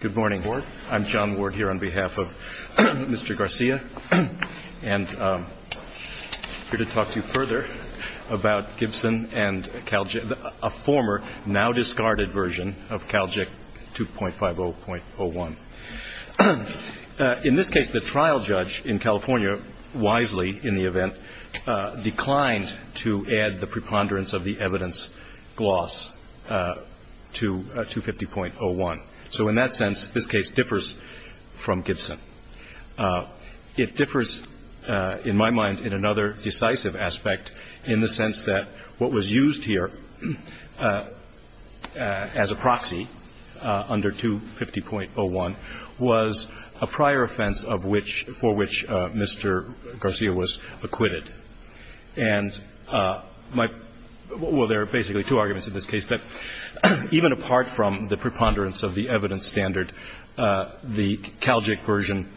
Good morning. I'm John Ward here on behalf of Mr. Garcia, and I'm here to talk to you further about Gibson and Calgic, a former, now discarded version of Calgic 2.50.01. In this case, the trial judge in California, wisely in the event, declined to add the preponderance of the evidence gloss to 2.50.01. So in that sense, this case differs from Gibson. It differs, in my mind, in another decisive aspect, in the sense that what was used here as a proxy under 2.50.01 was a prior offense of which, for which Mr. Garcia was acquitted. And my – well, there are basically two arguments in this case. That even apart from the preponderance of the evidence standard, the Calgic version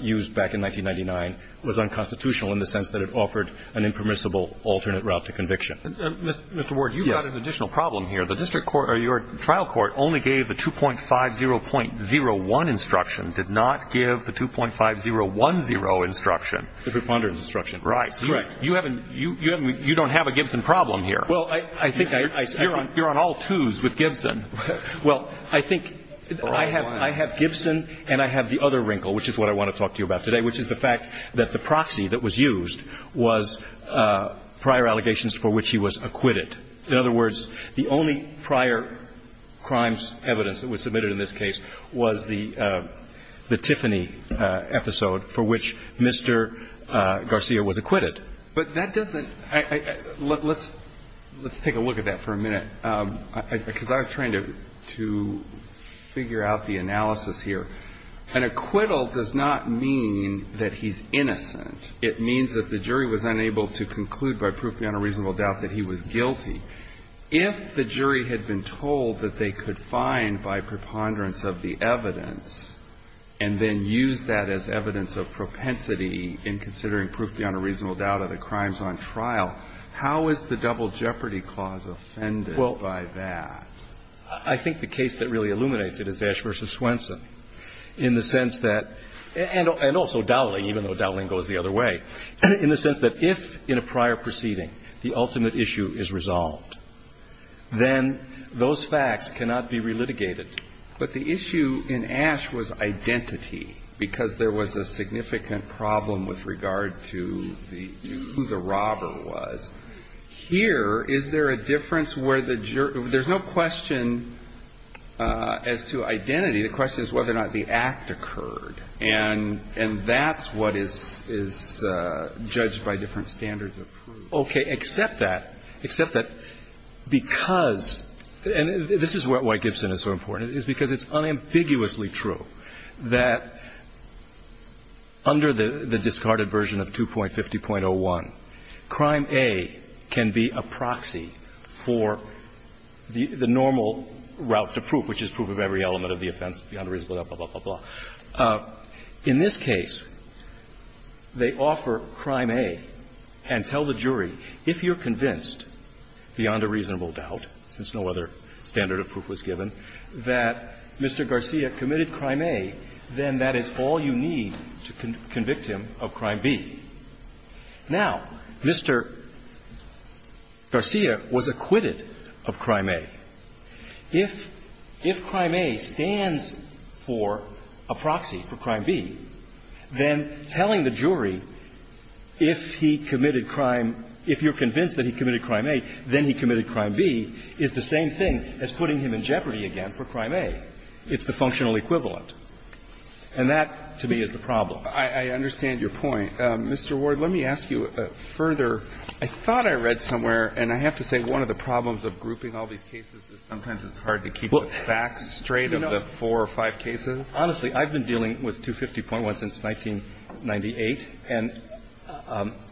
used back in 1999 was unconstitutional in the sense that it offered an impermissible alternate route to conviction. Mr. Ward, you've got an additional problem here. The district court – or your trial court only gave the 2.50.01 instruction, did not give the 2.50.10 instruction. The preponderance instruction. Right. You haven't – you don't have a Gibson problem here. Well, I think I – I – You're on all twos with Gibson. Well, I think I have – I have Gibson and I have the other wrinkle, which is what I want to talk to you about today, which is the fact that the proxy that was used was prior allegations for which he was acquitted. In other words, the only prior crimes evidence that was submitted in this case was the – the Tiffany episode for which Mr. Garcia was acquitted. But that doesn't – let's take a look at that for a minute, because I was trying to figure out the analysis here. An acquittal does not mean that he's innocent. It means that the jury was unable to conclude by proof beyond a reasonable doubt that he was guilty. If the jury had been told that they could find by preponderance of the evidence and then use that as evidence of propensity in considering proof beyond a reasonable doubt of the crimes on trial, how is the Double Jeopardy Clause offended by that? Well, I think the case that really illuminates it is Ashe v. Swenson in the sense that – and also Dowling, even though Dowling goes the other way – in the sense that if in a prior proceeding the ultimate issue is resolved, then those facts cannot be relitigated. But the issue in Ashe was identity, because there was a significant problem with regard to the – who the robber was. Here, is there a difference where the – there's no question as to identity. The question is whether or not the act occurred. And that's what is judged by different standards of proof. But what the Justice imposed was this assuming that evidence, evidence is satisfied the evidence. And they accept that, except that because – and this is why Gibson is so important is because it's unambiguously true that under the discarded version of 2.50.01, Crime A can be a proxy for the normal route to proof, which is proof of every element of the offense, beyond a reasonable doubt, blah, blah, blah, blah, blah. In this case, they offer Crime A and tell the jury, if you're convinced, beyond a reasonable doubt, since no other standard of proof was given, that Mr. Garcia committed Crime A, then that is all you need to convict him of Crime B. Now, Mr. Garcia was acquitted of Crime A. If – if Crime A stands for a proxy for Crime B, then telling the jury if he committed Crime – if you're convinced that he committed Crime A, then he committed Crime B is the same thing as putting him in jeopardy again for Crime A. It's the functional equivalent. And that, to me, is the problem. I understand your point. Mr. Ward, let me ask you further. I thought I read somewhere, and I have to say, one of the problems of grouping all these cases is sometimes it's hard to keep the facts straight of the four or five cases. Honestly, I've been dealing with 250.1 since 1998, and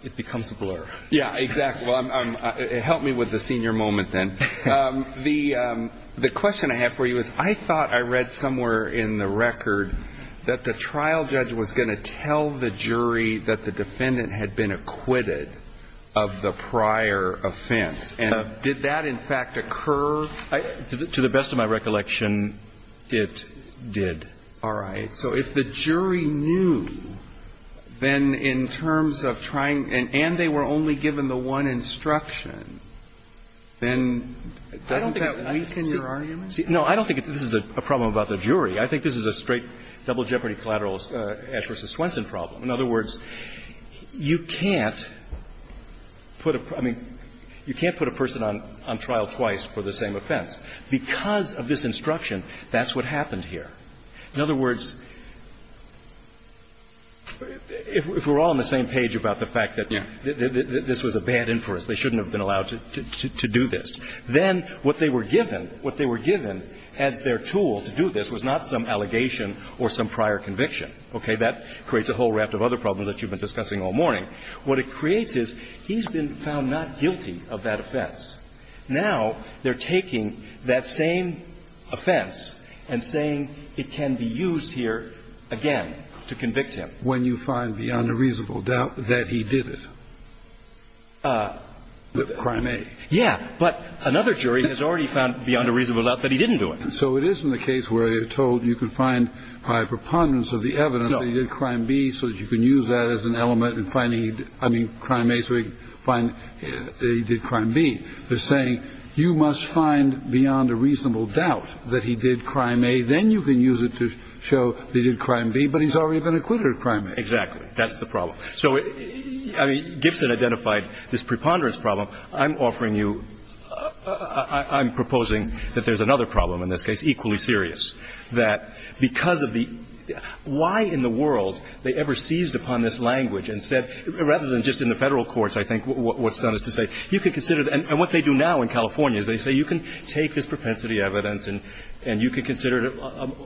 it becomes a blur. Yeah, exactly. It helped me with the senior moment then. The question I have for you is, I thought I read somewhere in the record that the jury would tell the jury that the defendant had been acquitted of the prior offense. And did that, in fact, occur? To the best of my recollection, it did. All right. So if the jury knew, then in terms of trying – and they were only given the one instruction, then doesn't that weaken your argument? I think this is a straight double jeopardy collateral Ash v. Swenson problem. In other words, you can't put a – I mean, you can't put a person on trial twice for the same offense. Because of this instruction, that's what happened here. In other words, if we're all on the same page about the fact that this was a bad inference, they shouldn't have been allowed to do this, then what they were given, what they were given as their tool to do this was not some allegation or some prior conviction. Okay? That creates a whole raft of other problems that you've been discussing all morning. What it creates is he's been found not guilty of that offense. Now they're taking that same offense and saying it can be used here again to convict him. When you find beyond a reasonable doubt that he did it. Crime A. Yeah. But another jury has already found beyond a reasonable doubt that he didn't do it. So it isn't a case where you're told you can find by preponderance of the evidence that he did Crime B so that you can use that as an element in finding – I mean, Crime A so he did Crime B. They're saying you must find beyond a reasonable doubt that he did Crime A, then you can use it to show that he did Crime B, but he's already been acquitted of Crime A. Exactly. That's the problem. So, I mean, Gibson identified this preponderance problem. I'm offering you – I'm proposing that there's another problem in this case, equally serious, that because of the – why in the world they ever seized upon this language and said – rather than just in the Federal courts, I think what's done is to say you can consider – and what they do now in California is they say you can take this propensity evidence and you can consider it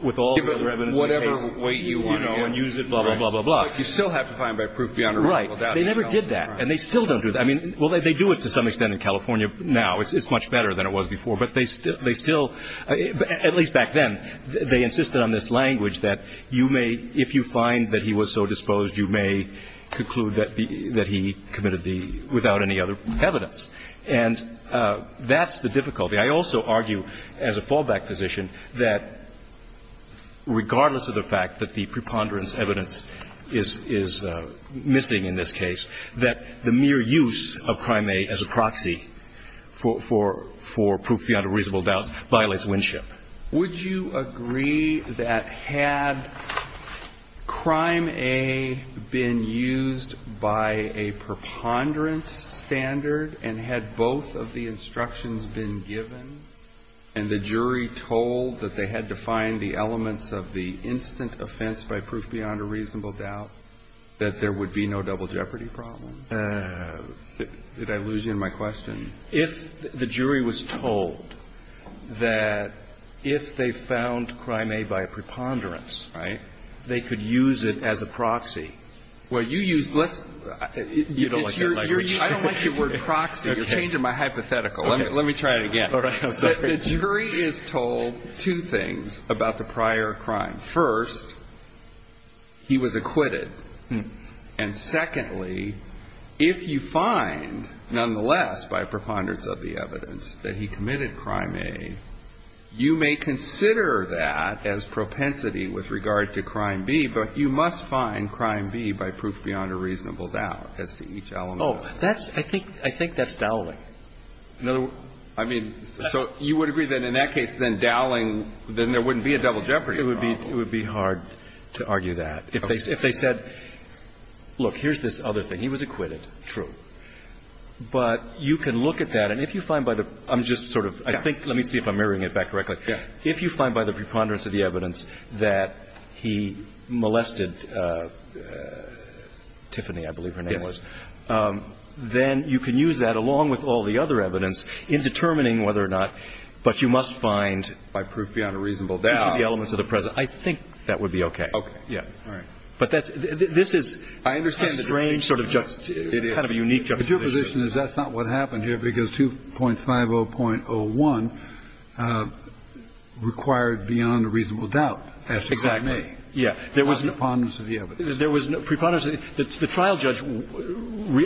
with all the other evidence in the case, you know, and use it, blah, blah, blah, blah, blah. But you still have to find by proof beyond a reasonable doubt. They never did that. And they still don't do that. I mean, well, they do it to some extent in California now. It's much better than it was before. But they still – at least back then, they insisted on this language that you may – if you find that he was so disposed, you may conclude that he committed the – without any other evidence. And that's the difficulty. I also argue as a fallback position that regardless of the fact that the preponderance of evidence is missing in this case, that the mere use of Crime A as a proxy for proof beyond a reasonable doubt violates Winship. Would you agree that had Crime A been used by a preponderance standard and had both of the instructions been given and the jury told that they had to find the elements of the instant offense by proof beyond a reasonable doubt, that there would be no double jeopardy problem? Did I lose you in my question? If the jury was told that if they found Crime A by a preponderance, right, they could use it as a proxy. Well, you use less – You don't like that language. I don't like your word proxy. Let me try it again. All right. I'm sorry. The jury is told two things about the prior crime. First, he was acquitted. And secondly, if you find nonetheless by preponderance of the evidence that he committed Crime A, you may consider that as propensity with regard to Crime B, but you must find Crime B by proof beyond a reasonable doubt as to each element. Oh, that's – I think that's dowling. I mean, so you would agree that in that case, then dowling, then there wouldn't be a double jeopardy problem. It would be hard to argue that. If they said, look, here's this other thing. He was acquitted. True. But you can look at that, and if you find by the – I'm just sort of – I think – let me see if I'm mirroring it back correctly. Yeah. If you find by the preponderance of the evidence that he molested Tiffany, I believe her name was, then you can use that along with all the other evidence in determining whether or not, but you must find by proof beyond a reasonable doubt. Each of the elements of the present. I think that would be okay. Okay. Yeah. All right. But that's – this is a strange sort of – kind of a unique juxtaposition. The juxtaposition is that's not what happened here, because 2.50.01 required beyond a reasonable doubt as to who it may. Exactly. There was no preponderance of the evidence. There was no preponderance. The trial judge,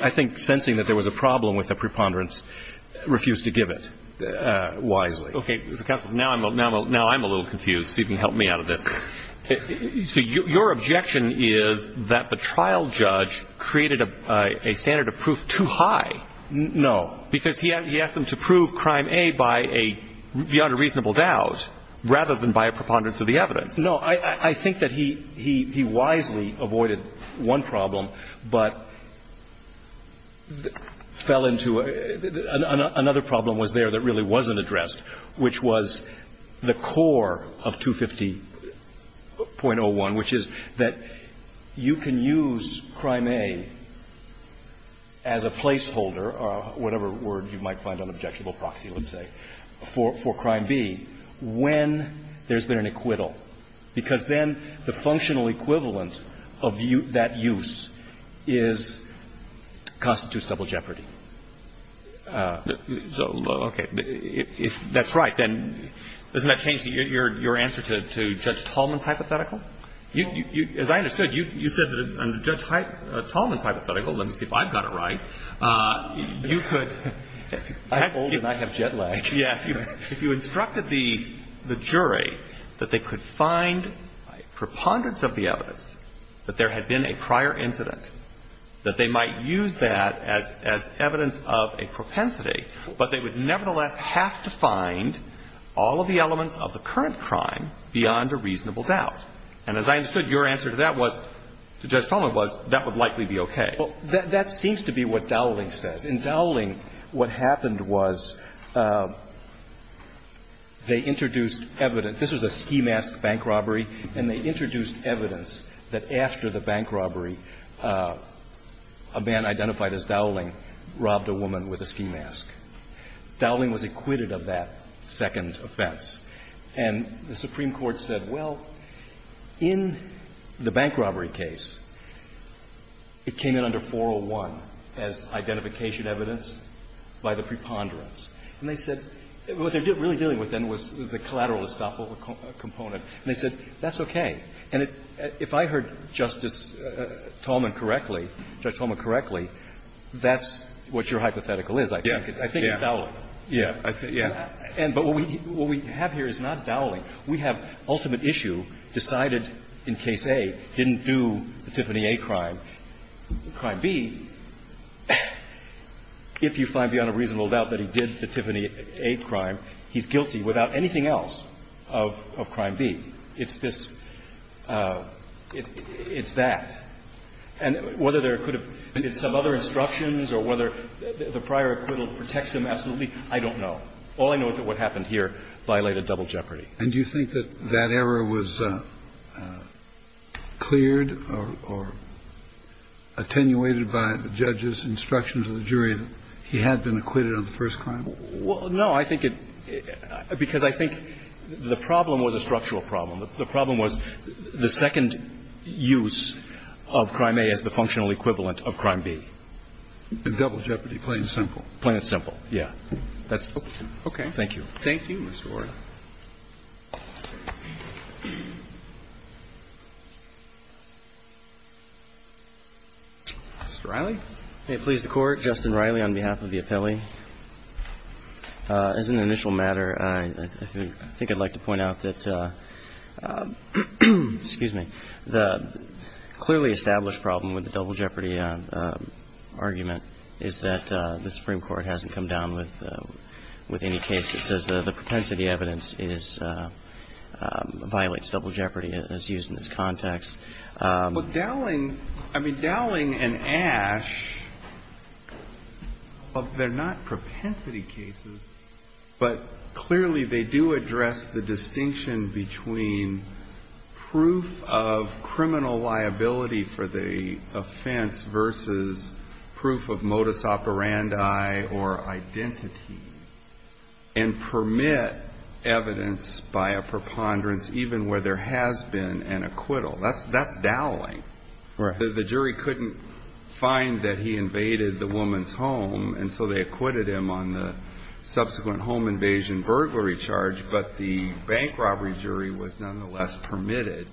I think sensing that there was a problem with the preponderance, refused to give it wisely. Okay. Counsel, now I'm a little confused, so you can help me out of this. So your objection is that the trial judge created a standard of proof too high. No. Because he asked them to prove crime A by a – beyond a reasonable doubt rather than by a preponderance of the evidence. No. I think that he – he wisely avoided one problem, but fell into a – another problem was there that really wasn't addressed, which was the core of 2.50.01, which is that you can use crime A as a placeholder, or whatever word you might find an objectionable proxy would say, for crime B when there's been an acquittal, because then the functional equivalent of that use is – constitutes double jeopardy. So, okay. If that's right, then doesn't that change your answer to Judge Tallman's hypothetical? As I understood, you said that under Judge Tallman's hypothetical, let me see if I've pulled and I have jet lag. Yeah. If you instructed the jury that they could find preponderance of the evidence that there had been a prior incident, that they might use that as evidence of a propensity, but they would nevertheless have to find all of the elements of the current crime beyond a reasonable doubt. And as I understood, your answer to that was – to Judge Tallman was that would likely be okay. Well, that seems to be what Dowling says. In Dowling, what happened was they introduced evidence. This was a ski mask bank robbery, and they introduced evidence that after the bank robbery, a man identified as Dowling robbed a woman with a ski mask. Dowling was acquitted of that second offense. And the Supreme Court said, well, in the bank robbery case, it came in under 401 as identification evidence by the preponderance. And they said – what they were really dealing with then was the collateral estoppel component. And they said, that's okay. And if I heard Justice Tallman correctly, Judge Tallman correctly, that's what your hypothetical is, I think. Yeah. I think it's Dowling. Yeah. Yeah. But what we have here is not Dowling. We have ultimate issue decided in Case A didn't do the Tiffany A crime. In Crime B, if you find beyond a reasonable doubt that he did the Tiffany A crime, he's guilty without anything else of Crime B. It's this – it's that. And whether there could have been some other instructions or whether the prior acquittal protects him absolutely, I don't know. All I know is that what happened here violated double jeopardy. And do you think that that error was cleared or attenuated by the judge's instruction to the jury that he had been acquitted on the first crime? Well, no. I think it – because I think the problem was a structural problem. The problem was the second use of Crime A as the functional equivalent of Crime B. Double jeopardy, plain and simple. Plain and simple. Yeah. That's – okay. Thank you. Thank you, Mr. Warren. Mr. Riley. May it please the Court. Justin Riley on behalf of the appellee. As an initial matter, I think I'd like to point out that – excuse me. The clearly established problem with the double jeopardy argument is that the Supreme Court, in the case that says the propensity evidence is – violates double jeopardy as used in this context. But Dowling – I mean, Dowling and Ash, they're not propensity cases, but clearly they do address the distinction between proof of criminal liability for the offense versus proof of modus operandi or identity and permit evidence by a preponderance even where there has been an acquittal. That's Dowling. The jury couldn't find that he invaded the woman's home, and so they acquitted him on the subsequent home invasion burglary charge, but the bank robbery jury was nonetheless permitted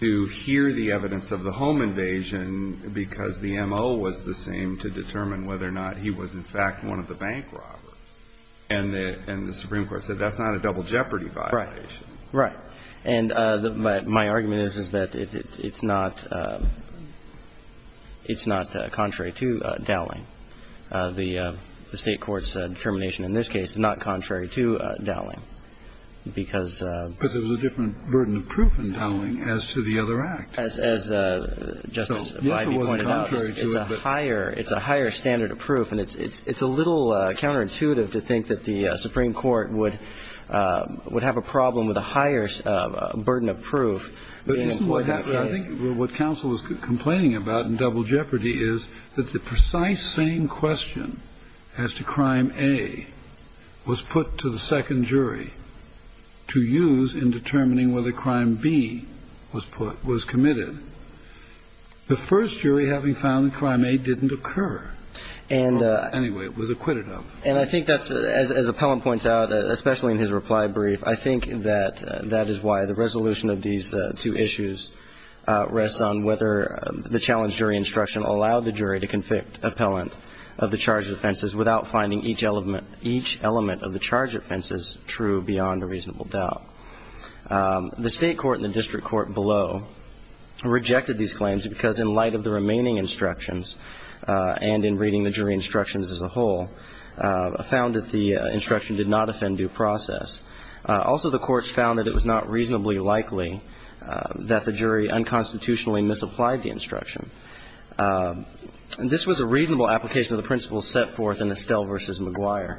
to hear the evidence of the home invasion because the M.O. was the same to determine whether or not he was, in fact, one of the bank robbers. And the Supreme Court said that's not a double jeopardy violation. Right. Right. And my argument is that it's not contrary to Dowling. The State Court's determination in this case is not contrary to Dowling because – Because it's a different burden of proof in Dowling as to the other act. As Justice Breyer pointed out, it's a higher standard of proof, and it's a little counterintuitive to think that the Supreme Court would have a problem with a higher burden of proof. But isn't what happened – I think what counsel is complaining about in double jeopardy is that the precise same question as to crime A was put to the second jury in determining whether crime B was put – was committed. The first jury, having found that crime A didn't occur, or anyway, was acquitted of it. And I think that's – as Appellant points out, especially in his reply brief, I think that that is why the resolution of these two issues rests on whether the challenge jury instruction allowed the jury to convict Appellant of the charge of offenses without finding each element of the charge offenses true beyond a reasonable doubt. The State Court and the district court below rejected these claims because in light of the remaining instructions and in reading the jury instructions as a whole, found that the instruction did not offend due process. Also, the courts found that it was not reasonably likely that the jury unconstitutionally misapplied the instruction. And this was a reasonable application of the principles set forth in Estelle v. McGuire.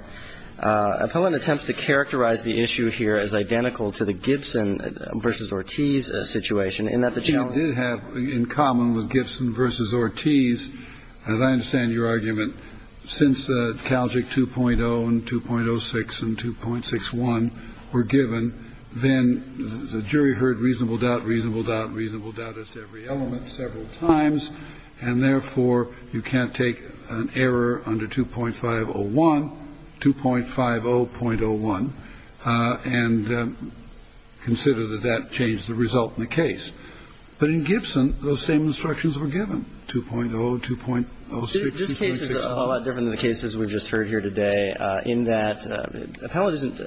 Appellant attempts to characterize the issue here as identical to the Gibson v. Ortiz situation in that the challenge – Kennedy did have in common with Gibson v. Ortiz, as I understand your argument, since Calgic 2.0 and 2.06 and 2.61 were given, then the jury heard reasonable doubt, reasonable doubt, reasonable doubt as to every element several times. And therefore, you can't take an error under 2.501, 2.50.01, and consider that that changed the result in the case. But in Gibson, those same instructions were given, 2.0, 2.06, 2.61. This case is a lot different than the cases we've just heard here today in that Appellant is not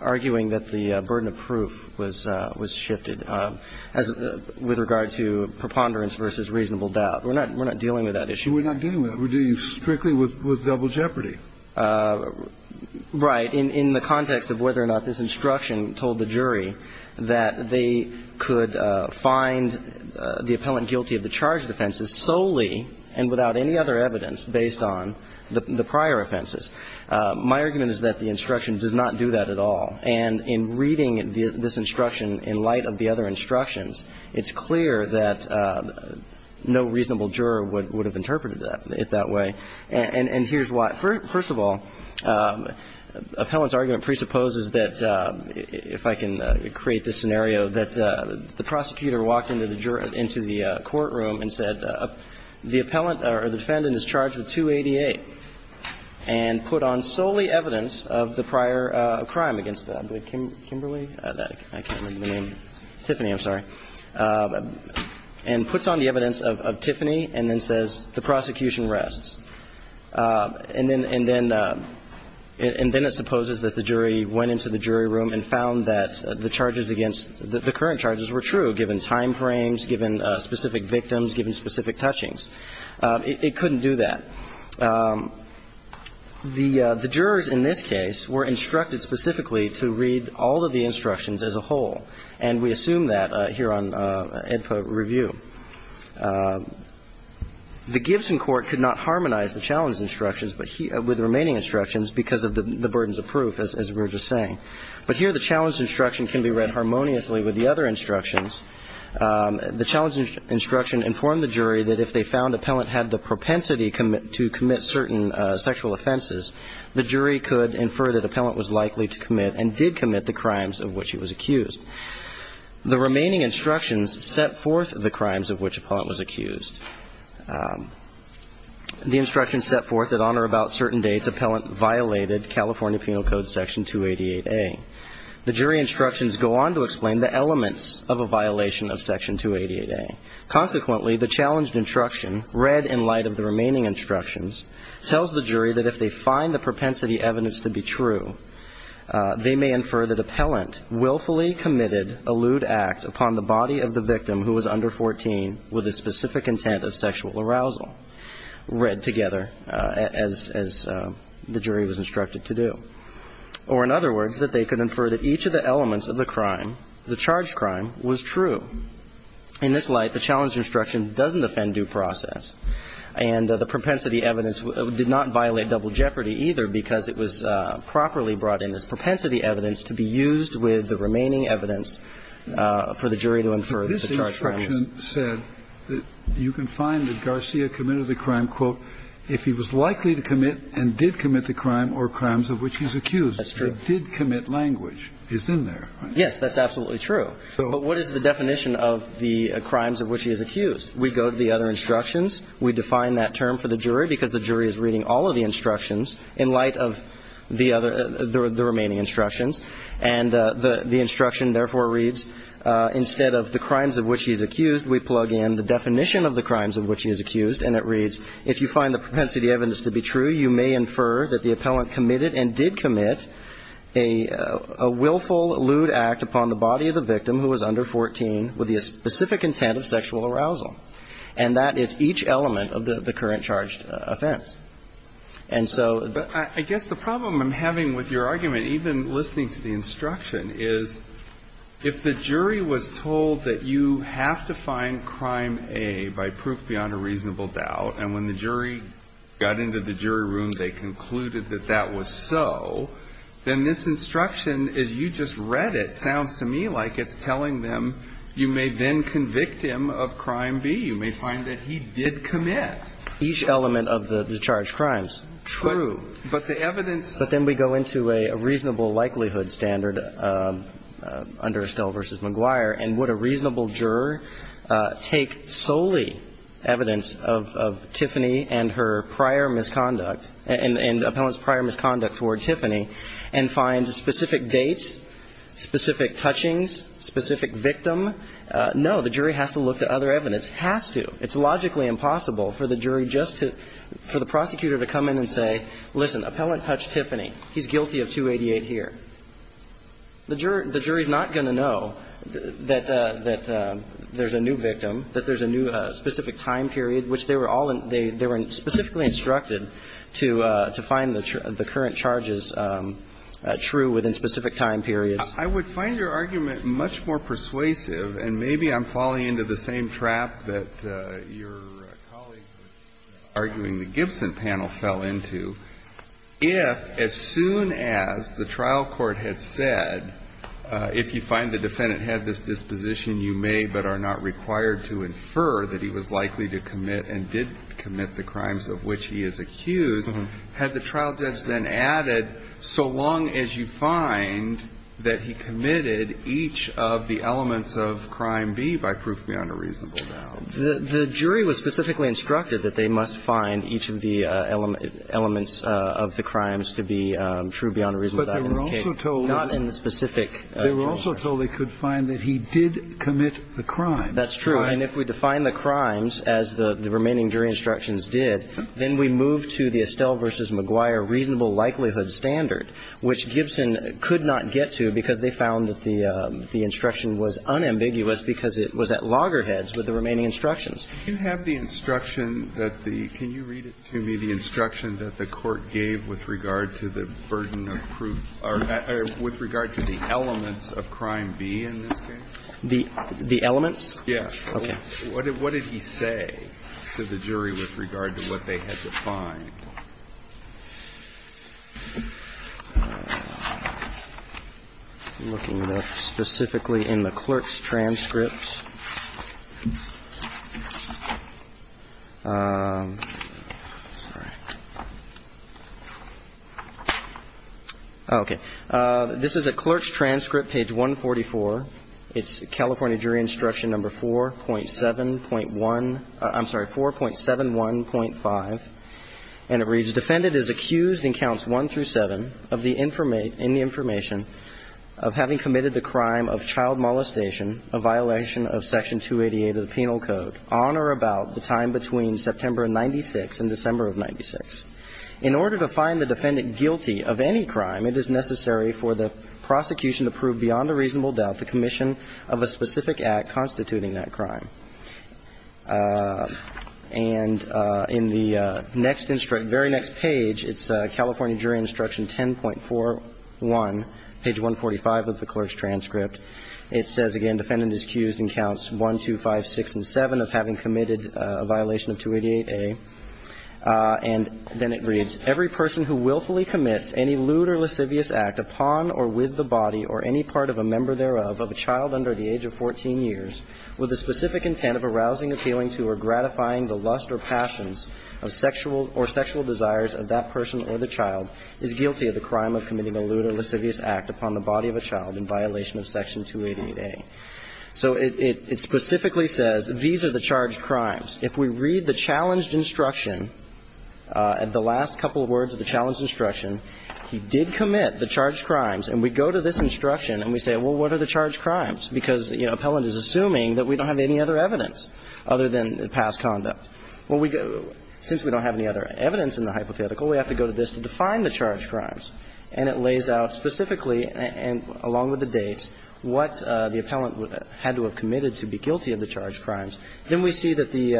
arguing that the burden of proof was shifted with regard to preponderance versus reasonable doubt. We're not dealing with that issue. We're not dealing with that. We're dealing strictly with double jeopardy. Right. In the context of whether or not this instruction told the jury that they could find the Appellant guilty of the charged offenses solely and without any other evidence based on the prior offenses. My argument is that the instruction does not do that at all. And in reading this instruction in light of the other instructions, it's clear that no reasonable juror would have interpreted it that way. And here's why. First of all, Appellant's argument presupposes that, if I can create this scenario, that the prosecutor walked into the courtroom and said the defendant is charged with 288. And put on solely evidence of the prior crime against Kimberly. I can't remember the name. Tiffany, I'm sorry. And puts on the evidence of Tiffany and then says the prosecution rests. And then it supposes that the jury went into the jury room and found that the charges against the current charges were true, given time frames, given specific victims, given specific touchings. It couldn't do that. The jurors in this case were instructed specifically to read all of the instructions as a whole. And we assume that here on AEDPA review. The Gibson Court could not harmonize the challenge instructions with the remaining instructions because of the burdens of proof, as we were just saying. But here the challenge instruction can be read harmoniously with the other instructions. The challenge instruction informed the jury that if they found Appellant had the propensity to commit certain sexual offenses, the jury could infer that Appellant was likely to commit and did commit the crimes of which he was accused. The remaining instructions set forth the crimes of which Appellant was accused. The instructions set forth that on or about certain dates Appellant violated California Penal Code Section 288A. The jury instructions go on to explain the elements of a violation of Section 288A. Consequently, the challenge instruction, read in light of the remaining instructions, tells the jury that if they find the propensity evidence to be true, they may infer that Appellant willfully committed a lewd act upon the body of the victim who was under 14 with a specific intent of sexual arousal, read together as the jury was instructed to do. Or in other words, that they could infer that each of the elements of the crime, the charged crime, was true. In this light, the challenge instruction doesn't offend due process, and the propensity evidence did not violate double jeopardy either, because it was properly brought in as propensity evidence to be used with the remaining evidence for the jury to infer the charged crime. This instruction said that you can find that Garcia committed the crime, quote, if he was likely to commit and did commit the crime or crimes of which he was accused. That's true. It did commit language. It's in there. Yes, that's absolutely true. But what is the definition of the crimes of which he is accused? We go to the other instructions. We define that term for the jury, because the jury is reading all of the instructions in light of the other, the remaining instructions. And the instruction, therefore, reads, instead of the crimes of which he is accused, we plug in the definition of the crimes of which he is accused. And it reads, if you find the propensity evidence to be true, you may infer that the appellant committed and did commit a willful lewd act upon the body of the victim who was under 14 with the specific intent of sexual arousal. And that is each element of the current charged offense. And so the ---- But I guess the problem I'm having with your argument, even listening to the instruction, is if the jury was told that you have to find crime A by proof beyond a reasonable doubt, and when the jury got into the jury room, they concluded that that was so, then this instruction, as you just read it, sounds to me like it's telling them you may then convict him of crime B. You may find that he did commit. Each element of the charged crimes. True. But the evidence ---- But then we go into a reasonable likelihood standard under Estelle v. McGuire, and would a reasonable juror take solely evidence of Tiffany and her prior misconduct and appellant's prior misconduct toward Tiffany and find specific dates, specific touchings, specific victim? No. The jury has to look to other evidence. Has to. It's logically impossible for the jury just to ---- for the prosecutor to come in and say, listen, appellant touched Tiffany. He's guilty of 288 here. The jury is not going to know that there's a new victim, that there's a new specific time period, which they were all in ---- they were specifically instructed to find the current charges true within specific time periods. I would find your argument much more persuasive, and maybe I'm falling into the same If you find the defendant had this disposition, you may but are not required to infer that he was likely to commit and did commit the crimes of which he is accused, had the trial judge then added, so long as you find that he committed each of the elements of Crime B by proof beyond a reasonable doubt. The jury was specifically instructed that they must find each of the elements of the crimes to be true beyond a reasonable doubt. But they were also told. Not in the specific. They were also told they could find that he did commit the crime. That's true. And if we define the crimes as the remaining jury instructions did, then we move to the Estelle v. Maguire reasonable likelihood standard, which Gibson could not get to because they found that the instruction was unambiguous because it was at loggerheads with the remaining instructions. Can you read it to me, the instruction that the court gave with regard to the burden of proof or with regard to the elements of Crime B in this case? The elements? Yes. Okay. What did he say to the jury with regard to what they had to find? I'm looking specifically in the clerk's transcript. Okay. This is a clerk's transcript. Page 144. It's California jury instruction number 4.7.1. I'm sorry. 4.7 1.5. And it reads, defendant is accused in counts one through seven of the information in the And it reads, defendant is accused in counts one through seven of the information in the of the penal code on or about the time between September of 96 and December of 96. In order to find the defendant guilty of any crime, it is necessary for the prosecution to prove beyond a reasonable doubt the commission of a specific act constituting that crime. And in the next instruction, very next page, it's California jury instruction 10.41, page 145 of the clerk's transcript. It says, again, defendant is accused in counts one, two, five, six and seven of having committed a violation of 288A. And then it reads, every person who willfully commits any lewd or lascivious act upon or with the body or any part of a member thereof of a child under the age of 14 years with the specific intent of arousing appealing to or gratifying the lust or passions of sexual or sexual desires of that person or the child is guilty of the crime of committing a lewd or lascivious act upon the body of a child in violation of Section 288A. So it specifically says these are the charged crimes. If we read the challenged instruction, the last couple of words of the challenged instruction, he did commit the charged crimes. And we go to this instruction and we say, well, what are the charged crimes? Because, you know, appellant is assuming that we don't have any other evidence other than past conduct. Well, since we don't have any other evidence in the hypothetical, we have to go to this to define the charged crimes. And it lays out specifically, and along with the dates, what the appellant had to have committed to be guilty of the charged crimes. Then we see that the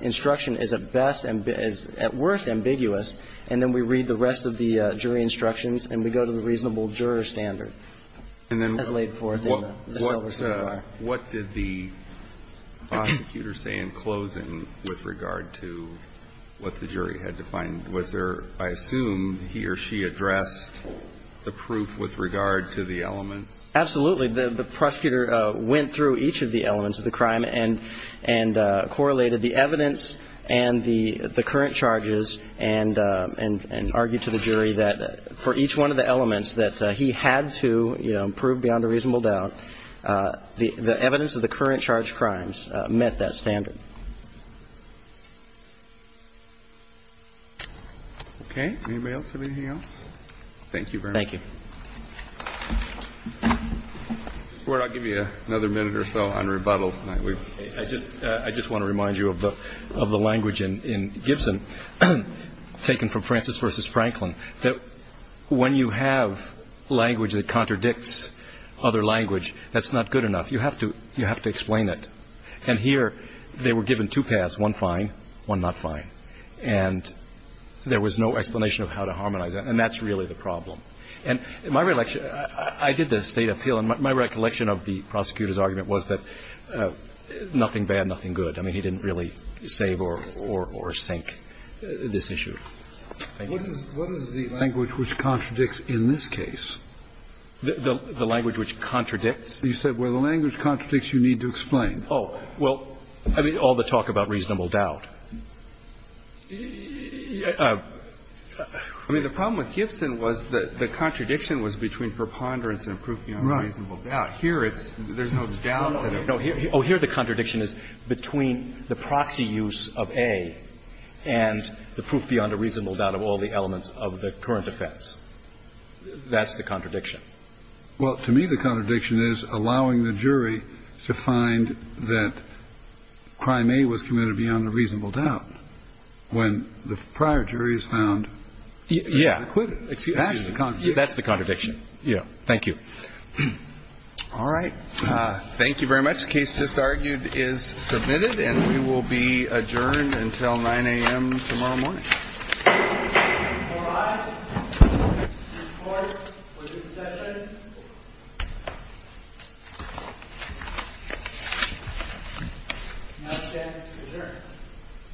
instruction is at best and is at worst ambiguous. And then we read the rest of the jury instructions and we go to the reasonable juror standard as laid forth in the silver certifier. And then what did the prosecutor say in closing with regard to what the jury had defined? Was there, I assume, he or she addressed the proof with regard to the elements? Absolutely. The prosecutor went through each of the elements of the crime and correlated the evidence and the current charges and argued to the jury that for each one of the elements that he had to prove beyond a reasonable doubt, the evidence of the current charged crimes met that standard. Okay. Anybody else? Anything else? Thank you very much. Thank you. I'll give you another minute or so on rebuttal. I just want to remind you of the language in Gibson taken from Francis v. Franklin, that when you have language that contradicts other language, that's not good enough. You have to explain it. And here they were given two paths, one fine, one not fine. And there was no explanation of how to harmonize that, and that's really the problem. And my recollection, I did the State appeal, and my recollection of the prosecutor's argument was that nothing bad, nothing good. I mean, he didn't really save or sink this issue. Thank you. What is the language which contradicts in this case? The language which contradicts? You said, well, the language contradicts you need to explain. Oh. Well, I mean, all the talk about reasonable doubt. I mean, the problem with Gibson was the contradiction was between preponderance and proof beyond a reasonable doubt. Here it's there's no doubt. No. Oh, here the contradiction is between the proxy use of A and the proof beyond a reasonable doubt of all the elements of the current offense. That's the contradiction. Well, to me, the contradiction is allowing the jury to find that crime A was committed beyond a reasonable doubt when the prior jury has found it unacquitted. Yeah. That's the contradiction. That's the contradiction. Yeah. Thank you. All right. Thank you very much. The case just argued is submitted, and we will be adjourned until 9 a.m. tomorrow morning. All rise. Support for this session. Now stands adjourned. Thank you. Thank you.